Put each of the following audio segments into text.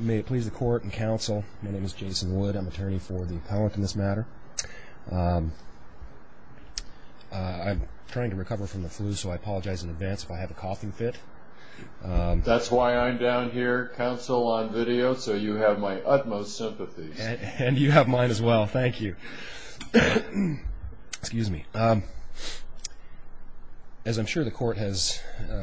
May it please the court and counsel my name is Jason Wood I'm attorney for the appellant in this matter I'm trying to recover from the flu so I apologize in advance if I have a coughing fit that's why I'm down here counsel on video so you have my utmost sympathy and you have mine as well thank you excuse me as I'm sure the court has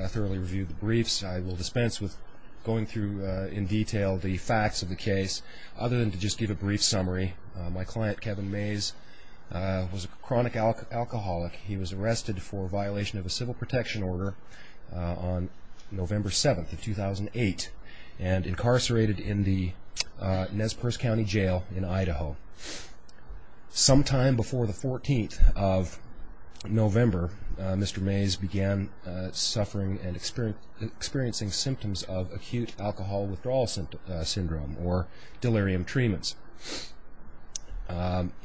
thoroughly reviewed the briefs I will dispense with going through in detail the facts of the case other than to just give a brief summary my client Kevin Mays was a chronic alcoholic he was arrested for violation of a civil protection order on November 7th of 2008 and incarcerated in the Nez Perce County Jail in Idaho sometime before the 14th of November Mr. Mays began suffering and experiencing symptoms of acute alcohol withdrawal syndrome or delirium treatments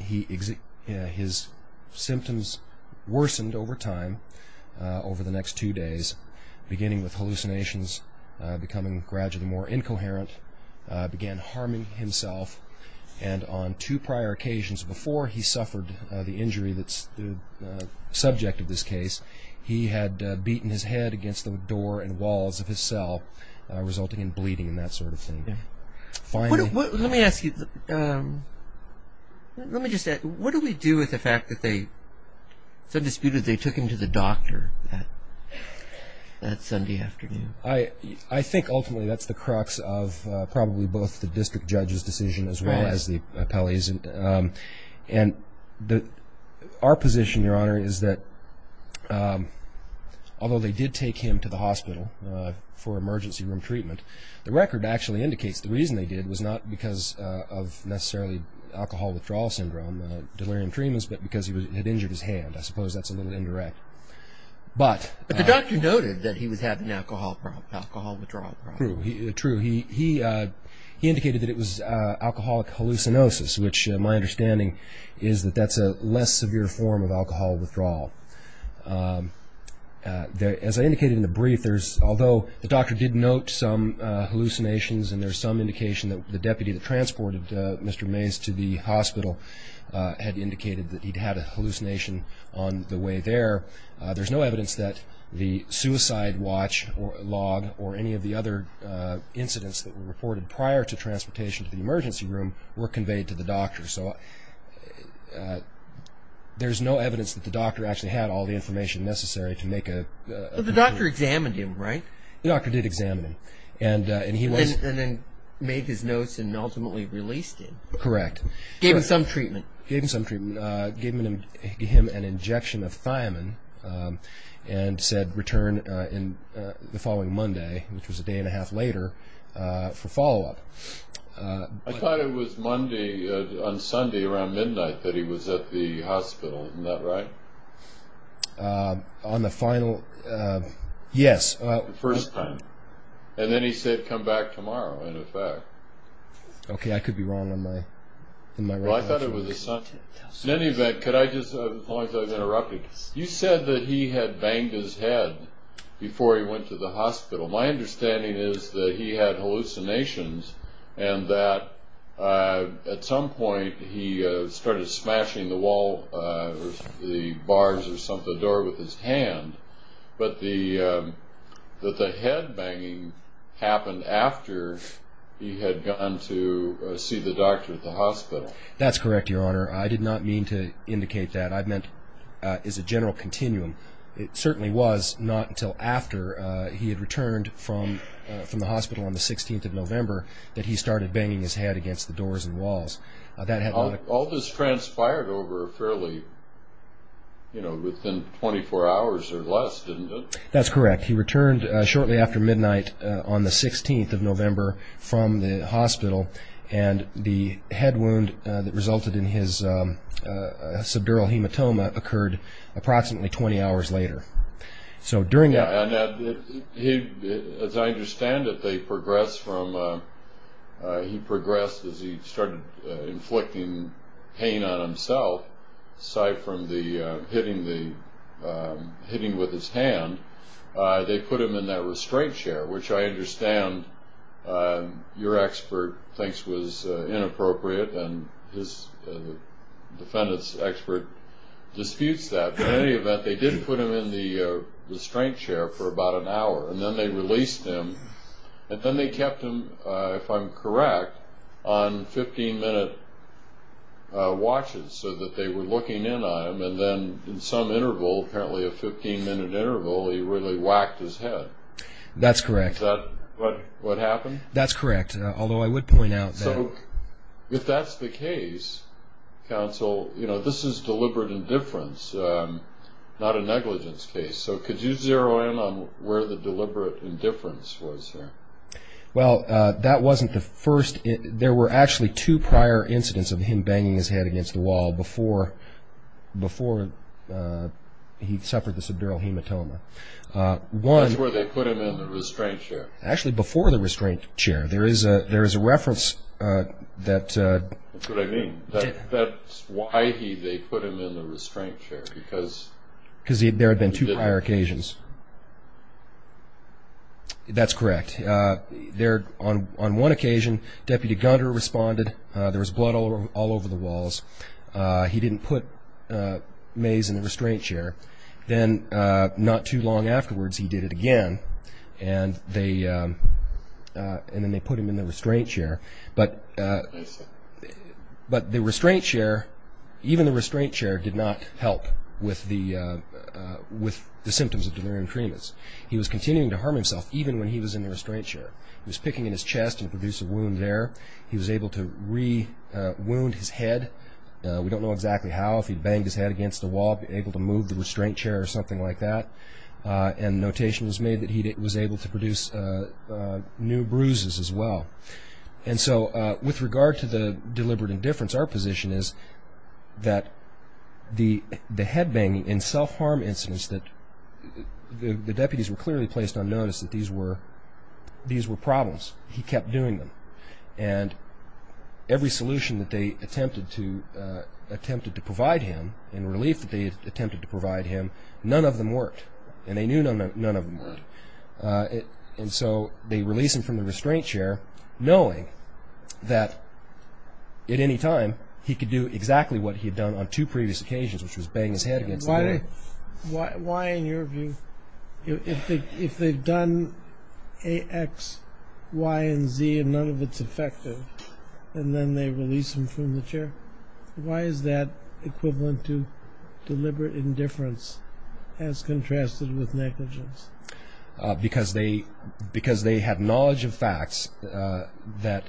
his symptoms worsened over time over the next two days beginning with hallucinations becoming gradually more incoherent began harming himself and on two prior occasions before he suffered the injury that's the subject of this case he had beaten his head against the door and walls of his cell resulting in bleeding that sort of thing let me ask you let me just say what do we do with the fact that they said disputed they took him to the doctor that Sunday afternoon I I think ultimately that's the crux of probably both the district judge's decision as well as the and our position your honor is that although they did take him to the hospital for emergency room treatment the record actually indicates the reason they did was not because of necessarily alcohol withdrawal syndrome delirium treatments but because he was injured his hand I suppose that's a little indirect but the doctor noted that he was having alcohol problem alcohol withdrawal true he indicated that it was alcoholic hallucinosis which my understanding is that that's a less severe form of alcohol withdrawal there as I indicated in the brief there's although the doctor did note some hallucinations and there's some indication that the deputy that transported mr. Mays to the hospital had indicated that he'd had a hallucination on the way there there's no evidence that the suicide watch or log or any of the other incidents that were reported prior to transportation to the emergency room were conveyed to the doctor so there's no evidence that the doctor actually had all the information necessary to make a doctor examined him right the doctor did examine him and and he was and then made his notes and ultimately released him correct gave him some treatment gave him some treatment gave him him an injection of thiamine and said return in the following Monday which was a day and a half later for follow-up I thought it was Monday on Sunday around midnight that he was at the hospital in that right on the final yes first time and then he said come back tomorrow in effect okay I could be wrong on my in my life I thought it was a son in any event could I just point I interrupted you said that he had banged his head before he went to the hospital my understanding is that he had hallucinations and that at some point he started smashing the wall the bars or something door with his hand but the that the headbanging happened after he had gone to see the doctor at the hospital that's correct your honor I did not mean to indicate that I meant is a he had returned from from the hospital on the 16th of November that he started banging his head against the doors and walls that had all this transpired over fairly you know within 24 hours or less didn't that's correct he returned shortly after midnight on the 16th of November from the hospital and the head wound that resulted in his subdural hematoma occurred approximately 20 hours later so during that as I understand it they progressed from he progressed as he started inflicting pain on himself aside from the hitting the hitting with his hand they put him in that restraint chair which I understand your expert thinks was inappropriate and his defendants expert disputes that in any restraint chair for about an hour and then they released him and then they kept him if I'm correct on 15-minute watches so that they were looking in on him and then in some interval apparently a 15-minute interval he really whacked his head that's correct but what happened that's correct although I would point out so if that's the case counsel you know this is deliberate indifference not a negligence case so could you zero in on where the deliberate indifference was well that wasn't the first it there were actually two prior incidents of him banging his head against the wall before before he suffered the subdural hematoma one where they put him in the restraint chair actually before the restraint chair there is a there is a reference that that's what I mean that that's why he they put him in the restraint chair because because there had been two prior occasions that's correct they're on on one occasion deputy gunner responded there was blood all over the walls he didn't put maize in the restraint chair then not too long afterwards he did it again and they and they put him in the restraint chair but but the restraint chair even the restraint chair did not help with the with the symptoms of delirium cremus he was continuing to harm himself even when he was in the restraint chair he was picking in his chest and produce a wound there he was able to re wound his head we don't know exactly how if he banged his head against the wall able to move the restraint chair or something like that and notation was made that he was able to produce new bruises as well and so with regard to the deliberate indifference our position is that the the head banging in self-harm incidents that the deputies were clearly placed on notice that these were these were problems he kept doing them and every solution that they attempted to attempted to provide him in relief that they attempted to provide him none of them worked and they knew none of them and so they release him from the restraint chair knowing that at any time he could do exactly what he had done on two previous occasions which was banging his head why why in your view if they if they've done a X Y and Z and none of its effective and then they release him from the chair why is that equivalent to deliberate indifference as contrasted with negligence because they because they had knowledge of facts that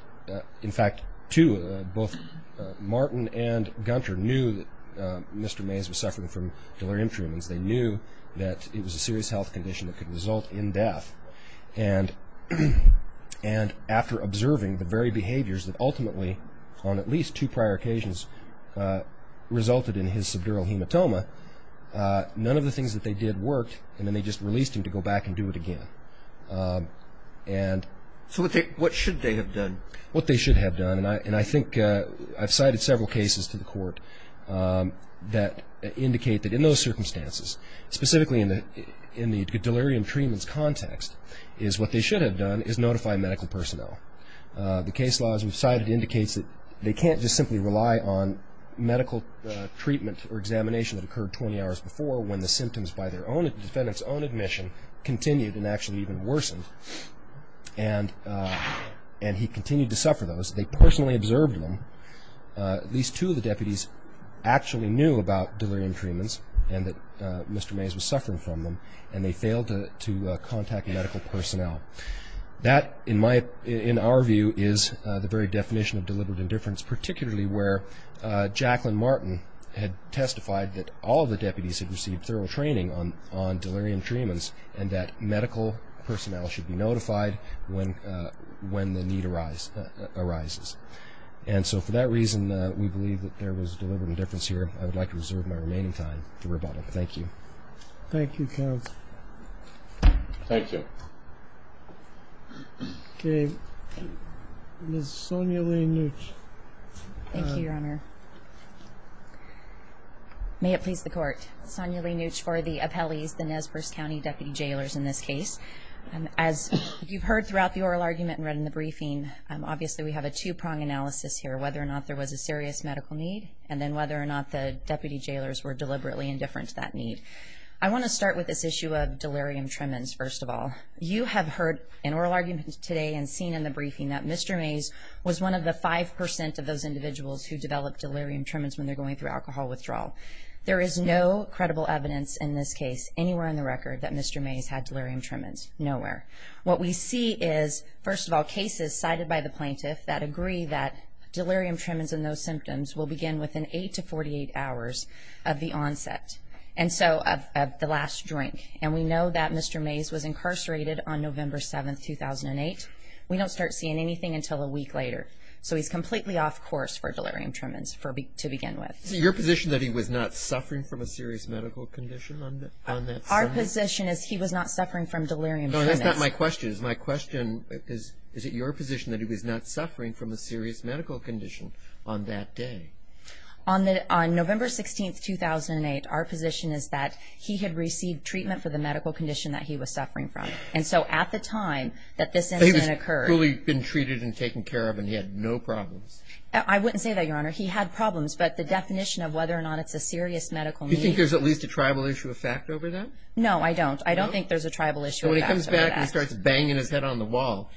in fact to both Martin and Gunter knew that mr. Mays was suffering from delirium treatments they knew that it was a serious health condition that could result in death and and after observing the very behaviors that ultimately on at prior occasions resulted in his severe hematoma none of the things that they did worked and then they just released him to go back and do it again and so what they what should they have done what they should have done and I and I think I've cited several cases to the court that indicate that in those circumstances specifically in the in the delirium treatments context is what they should have done is notify medical personnel the case laws we've cited indicates that they can't just simply rely on medical treatment or examination that occurred 20 hours before when the symptoms by their own defendants own admission continued and actually even worsened and and he continued to suffer those they personally observed them these two of the deputies actually knew about delirium treatments and that mr. Mays was suffering from them and they failed to contact medical personnel that in my in our view is the very definition of deliberate indifference particularly where Jacqueline Martin had testified that all the deputies have received thorough training on on delirium treatments and that medical personnel should be notified when when the need arise arises and so for that reason we believe that there was deliberate indifference here I would like to reserve my remaining time to thank you your honor may it please the court Sonia Lee nooch for the appellees the Nez Perce County deputy jailers in this case and as you've heard throughout the oral argument and read in the briefing obviously we have a two-prong analysis here whether or not there was a serious medical need and then whether or not the deputy jailers were deliberately indifferent to that need I want to start with this issue of delirium tremens first of all you have heard an oral argument today and seen in the briefing that mr. Mays was one of the 5% of those individuals who developed delirium tremens when they're going through alcohol withdrawal there is no credible evidence in this case anywhere in the record that mr. Mays had delirium tremens nowhere what we see is first of all cases cited by the plaintiff that agree that delirium tremens and those symptoms will begin within 8 to 48 hours of the onset and so of the last drink and we know that mr. Mays was incarcerated on November 7th 2008 we don't start seeing anything until a week later so he's completely off course for delirium tremens for me to begin with your position that he was not suffering from a serious medical condition on our position is he was not suffering from delirium that's not my question is my question is is it your position that he was not suffering from a serious medical condition on that day on that on for the medical condition that he was suffering from and so at the time that this really been treated and taken care of and he had no problems I wouldn't say that your honor he had problems but the definition of whether or not it's a serious medical you think there's at least a tribal issue of fact over that no I don't I don't think there's a tribal issue when he comes back and starts banging his head on the wall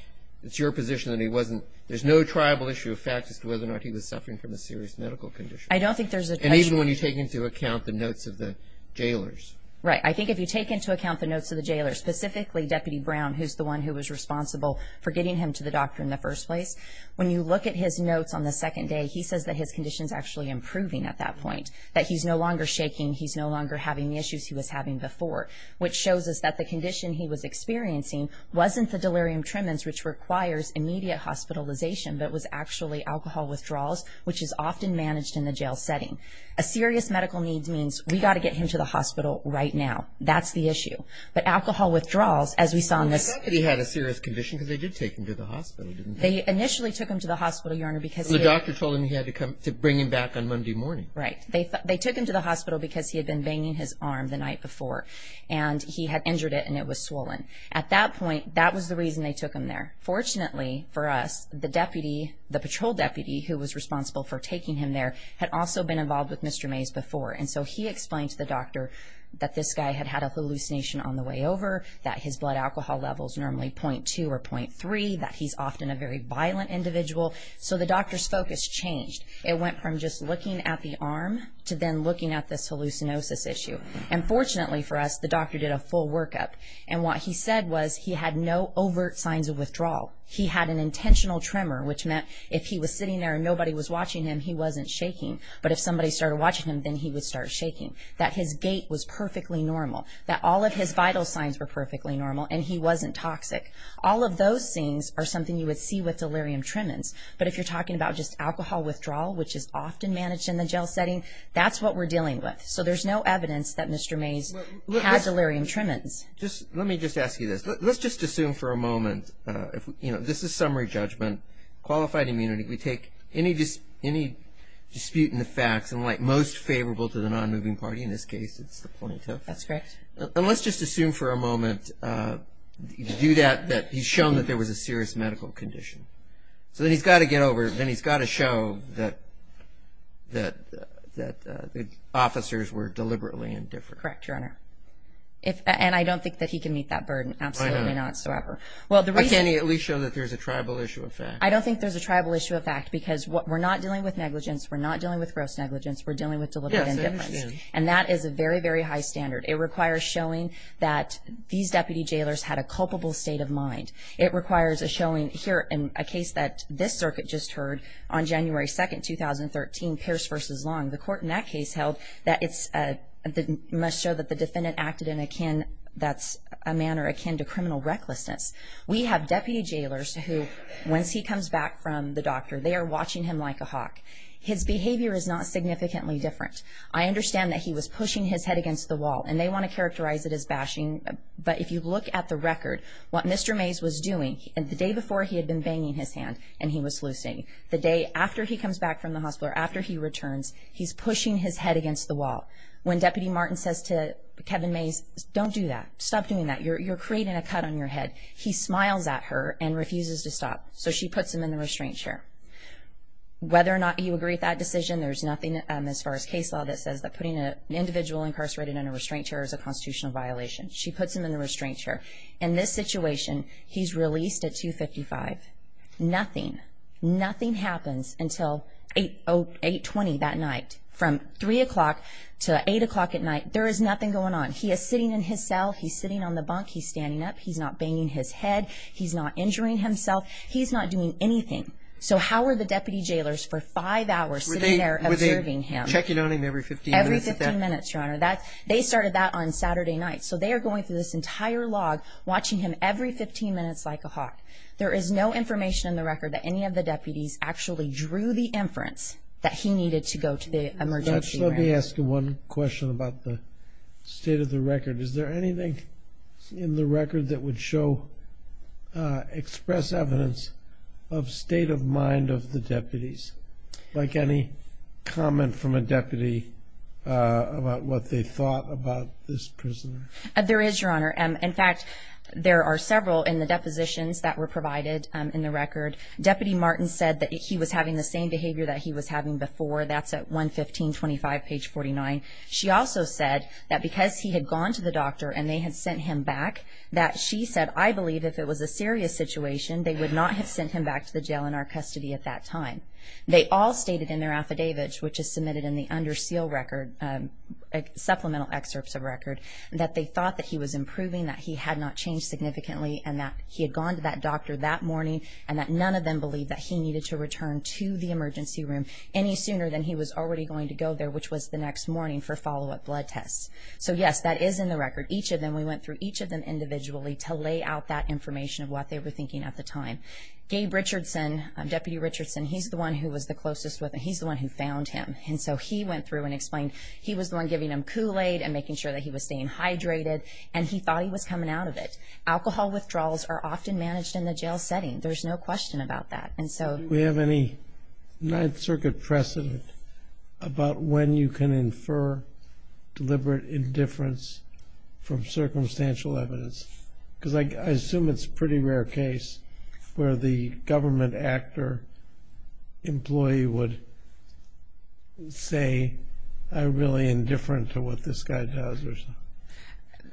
it's your position that he wasn't there's no tribal issue of fact as to whether or not he was suffering from a serious medical condition I don't think there's a need when you take into account the jailers right I think if you take into account the notes of the jailers specifically deputy Brown who's the one who was responsible for getting him to the doctor in the first place when you look at his notes on the second day he says that his conditions actually improving at that point that he's no longer shaking he's no longer having the issues he was having before which shows us that the condition he was experiencing wasn't the delirium tremens which requires immediate hospitalization but was actually alcohol withdrawals which is often managed in the jail setting a serious medical needs means we got to get him to the hospital right now that's the issue but alcohol withdrawals as we saw in this he had a serious condition because they did take him to the hospital they initially took him to the hospital your honor because the doctor told him he had to come to bring him back on Monday morning right they they took him to the hospital because he had been banging his arm the night before and he had injured it and it was swollen at that point that was the reason they took him there fortunately for us the deputy the patrol deputy who was responsible for taking him there had also been involved with mr. Mays before and so he explained to the doctor that this guy had had a hallucination on the way over that his blood alcohol levels normally 0.2 or 0.3 that he's often a very violent individual so the doctor's focus changed it went from just looking at the arm to then looking at this hallucinosis issue and fortunately for us the doctor did a full workup and what he said was he had no overt signs of withdrawal he had an intentional tremor which meant if he was watching him then he would start shaking that his gait was perfectly normal that all of his vital signs were perfectly normal and he wasn't toxic all of those scenes are something you would see with delirium tremens but if you're talking about just alcohol withdrawal which is often managed in the jail setting that's what we're dealing with so there's no evidence that mr. Mays has delirium tremens just let me just ask you this let's just assume for a moment if you know this is summary judgment qualified immunity we take any just any dispute in facts and like most favorable to the non-moving party in this case it's the point that's correct and let's just assume for a moment you do that that he's shown that there was a serious medical condition so then he's got to get over then he's got to show that that that the officers were deliberately indifferent correct your honor if and I don't think that he can meet that burden absolutely not so ever well the reason he at least show that there's a tribal issue of fact I don't think there's a tribal issue of fact because what we're not dealing with negligence we're not dealing with gross negligence we're dealing with deliver and that is a very very high standard it requires showing that these deputy jailers had a culpable state of mind it requires a showing here in a case that this circuit just heard on January 2nd 2013 Pierce versus long the court in that case held that it's a must show that the defendant acted in a can that's a manner akin to criminal recklessness we have deputy jailers who once he comes back from the doctor they are watching him like a hawk his behavior is not significantly different I understand that he was pushing his head against the wall and they want to characterize it as bashing but if you look at the record what mr. Mays was doing and the day before he had been banging his hand and he was loosing the day after he comes back from the hospital after he returns he's pushing his head against the wall when deputy Martin says to Kevin Mays don't do that stop doing that you're creating a cut on so she puts him in the restraint chair whether or not you agree that decision there's nothing as far as case law that says that putting an individual incarcerated in a restraint chair is a constitutional violation she puts him in the restraint chair in this situation he's released at 255 nothing nothing happens until 820 that night from three o'clock to eight o'clock at night there is nothing going on he is sitting in his cell he's sitting on the bunk he's not banging his head he's not injuring himself he's not doing anything so how are the deputy jailers for five hours they're observing him checking on him every 15 minutes your honor that they started that on Saturday night so they are going through this entire log watching him every 15 minutes like a hawk there is no information in the record that any of the deputies actually drew the inference that he needed to go to the emergency let me ask you one question about the state of the record is there anything in the record that would show express evidence of state of mind of the deputies like any comment from a deputy about what they thought about this person there is your honor and in fact there are several in the depositions that were provided in the record deputy Martin said that he was having the same behavior that he was having before that's at 115 25 page 49 she also said that because he had gone to the doctor and they had sent him back that she said I believe if it was a serious situation they would not have sent him back to the jail in our custody at that time they all stated in their affidavits which is submitted in the under seal record supplemental excerpts of record that they thought that he was improving that he had not changed significantly and that he had gone to that doctor that morning and that none of them believed that he needed to emergency room any sooner than he was already going to go there which was the next morning for follow-up blood tests so yes that is in the record each of them we went through each of them individually to lay out that information of what they were thinking at the time Gabe Richardson deputy Richardson he's the one who was the closest with and he's the one who found him and so he went through and explained he was the one giving him Kool-Aid and making sure that he was staying hydrated and he thought he was coming out of it alcohol withdrawals are often managed in the jail setting there's no question about that and so we have any Ninth Circuit precedent about when you can infer deliberate indifference from circumstantial evidence because I assume it's pretty rare case where the government actor employee would say I really indifferent to what this guy does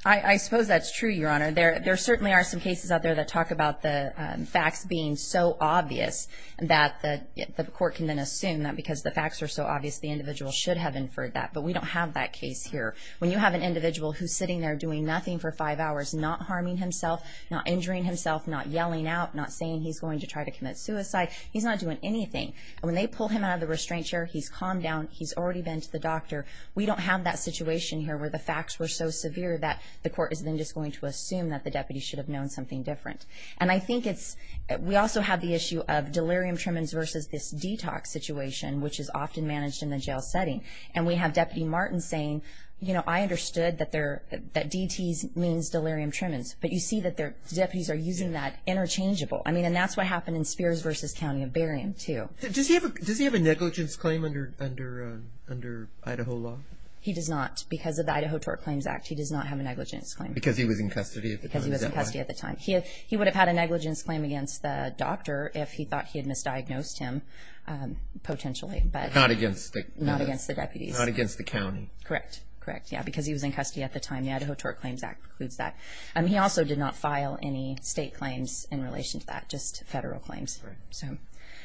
I suppose that's true your honor there there certainly are some cases out there that talk about the facts being so obvious that the court can then assume that because the facts are so obvious the individual should have inferred that but we don't have that case here when you have an individual who's sitting there doing nothing for five hours not harming himself not injuring himself not yelling out not saying he's going to try to commit suicide he's not doing anything when they pull him out of the restraint chair he's calmed down he's already been to the doctor we don't have that situation here where the facts were so severe that the court is then just going to assume that the deputy should have known something different and I think that's a really important issue of delirium trimmings versus this detox situation which is often managed in the jail setting and we have deputy Martin saying you know I understood that there that DT's means delirium trimmings but you see that their deputies are using that interchangeable I mean and that's what happened in Spears versus County of Barium to does he have a does he have a negligence claim under under under Idaho law he does not because of the Idaho tort claims act he does not have a negligence claim because he was in custody if he thought he had misdiagnosed him potentially but not against not against the deputies not against the county correct correct yeah because he was in custody at the time the Idaho tort claims act includes that and he also did not file any state claims in relation to that just federal claims so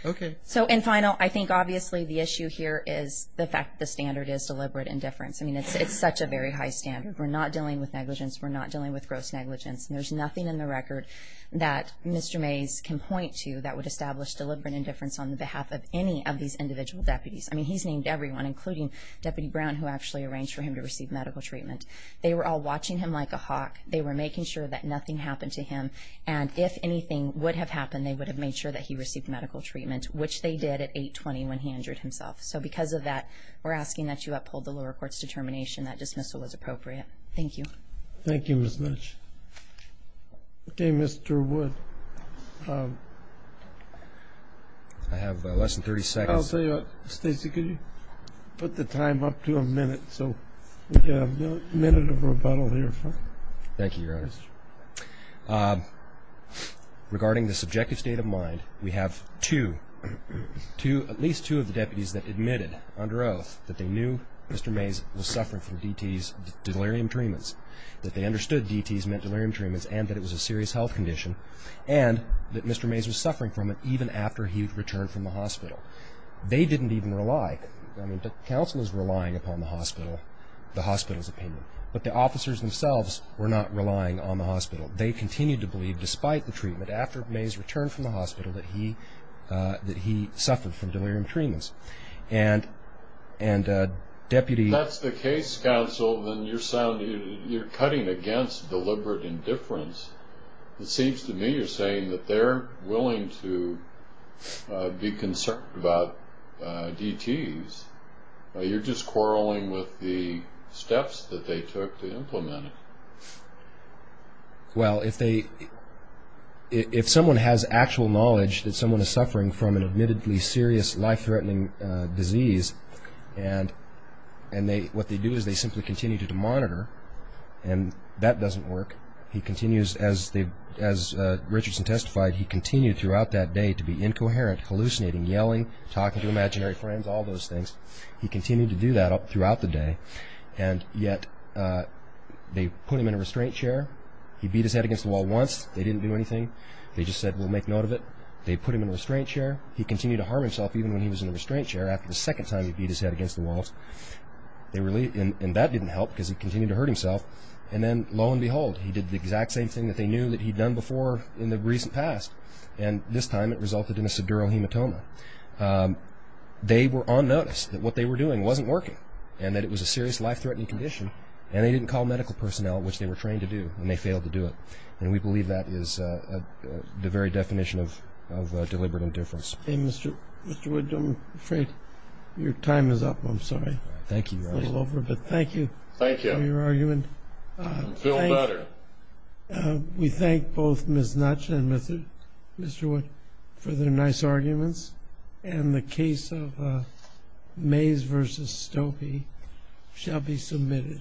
okay so in final I think obviously the issue here is the fact the standard is deliberate indifference I mean it's it's such a very high standard we're not dealing with negligence we're not dealing with gross negligence and nothing in the record that mr. Mays can point to that would establish deliberate indifference on the behalf of any of these individual deputies I mean he's named everyone including deputy Brown who actually arranged for him to receive medical treatment they were all watching him like a hawk they were making sure that nothing happened to him and if anything would have happened they would have made sure that he received medical treatment which they did at 820 when he injured himself so because of that we're asking that you uphold the lower courts determination that dismissal was appropriate thank you thank you as much okay mr. wood I have less than 30 seconds Stacy could you put the time up to a minute so minute of rebuttal here thank you regarding the subjective state of mind we have to to at least two of the deputies that admitted under oath that they knew mr. Mays was suffering from DTS delirium treatments that they understood DTS meant delirium treatments and that it was a serious health condition and that mr. Mays was suffering from it even after he returned from the hospital they didn't even rely I mean the council is relying upon the hospital the hospital's opinion but the officers themselves were not relying on the hospital they continued to believe despite the treatment after Mays returned from the hospital that he that he suffered from delirium treatments and and deputy that's the case counsel then you're sounding you're cutting against deliberate indifference it seems to me you're saying that they're willing to be concerned about DTS you're just quarreling with the steps that they took to implement it well if they if someone has actual knowledge that someone is suffering from an admittedly serious life-threatening disease and and they what they do is they simply continue to monitor and that doesn't work he continues as they as Richardson testified he continued throughout that day to be incoherent hallucinating yelling talking to imaginary friends all those things he continued to do that up throughout the day and yet they put him in a restraint chair he beat his head against the wall once they didn't do anything they just said we'll make note of it they put him in a restraint chair he continued to harm himself even when he was in a restraint chair after the second time he beat his head against the walls they really didn't and that didn't help because he continued to hurt himself and then lo and behold he did the exact same thing that they knew that he'd done before in the recent past and this time it resulted in a severe hematoma they were on notice that what they were doing wasn't working and that it was a serious life-threatening condition and they didn't call medical personnel which they were trained to do and they failed to do it and we believe that is the very definition of deliberate indifference hey mr. mr. Wood I'm afraid your time is up I'm sorry thank you over but thank you thank you for your argument we thank both ms. nuts and mr. mr. wood for their nice arguments and the case of Mays versus Stokoe shall be submitted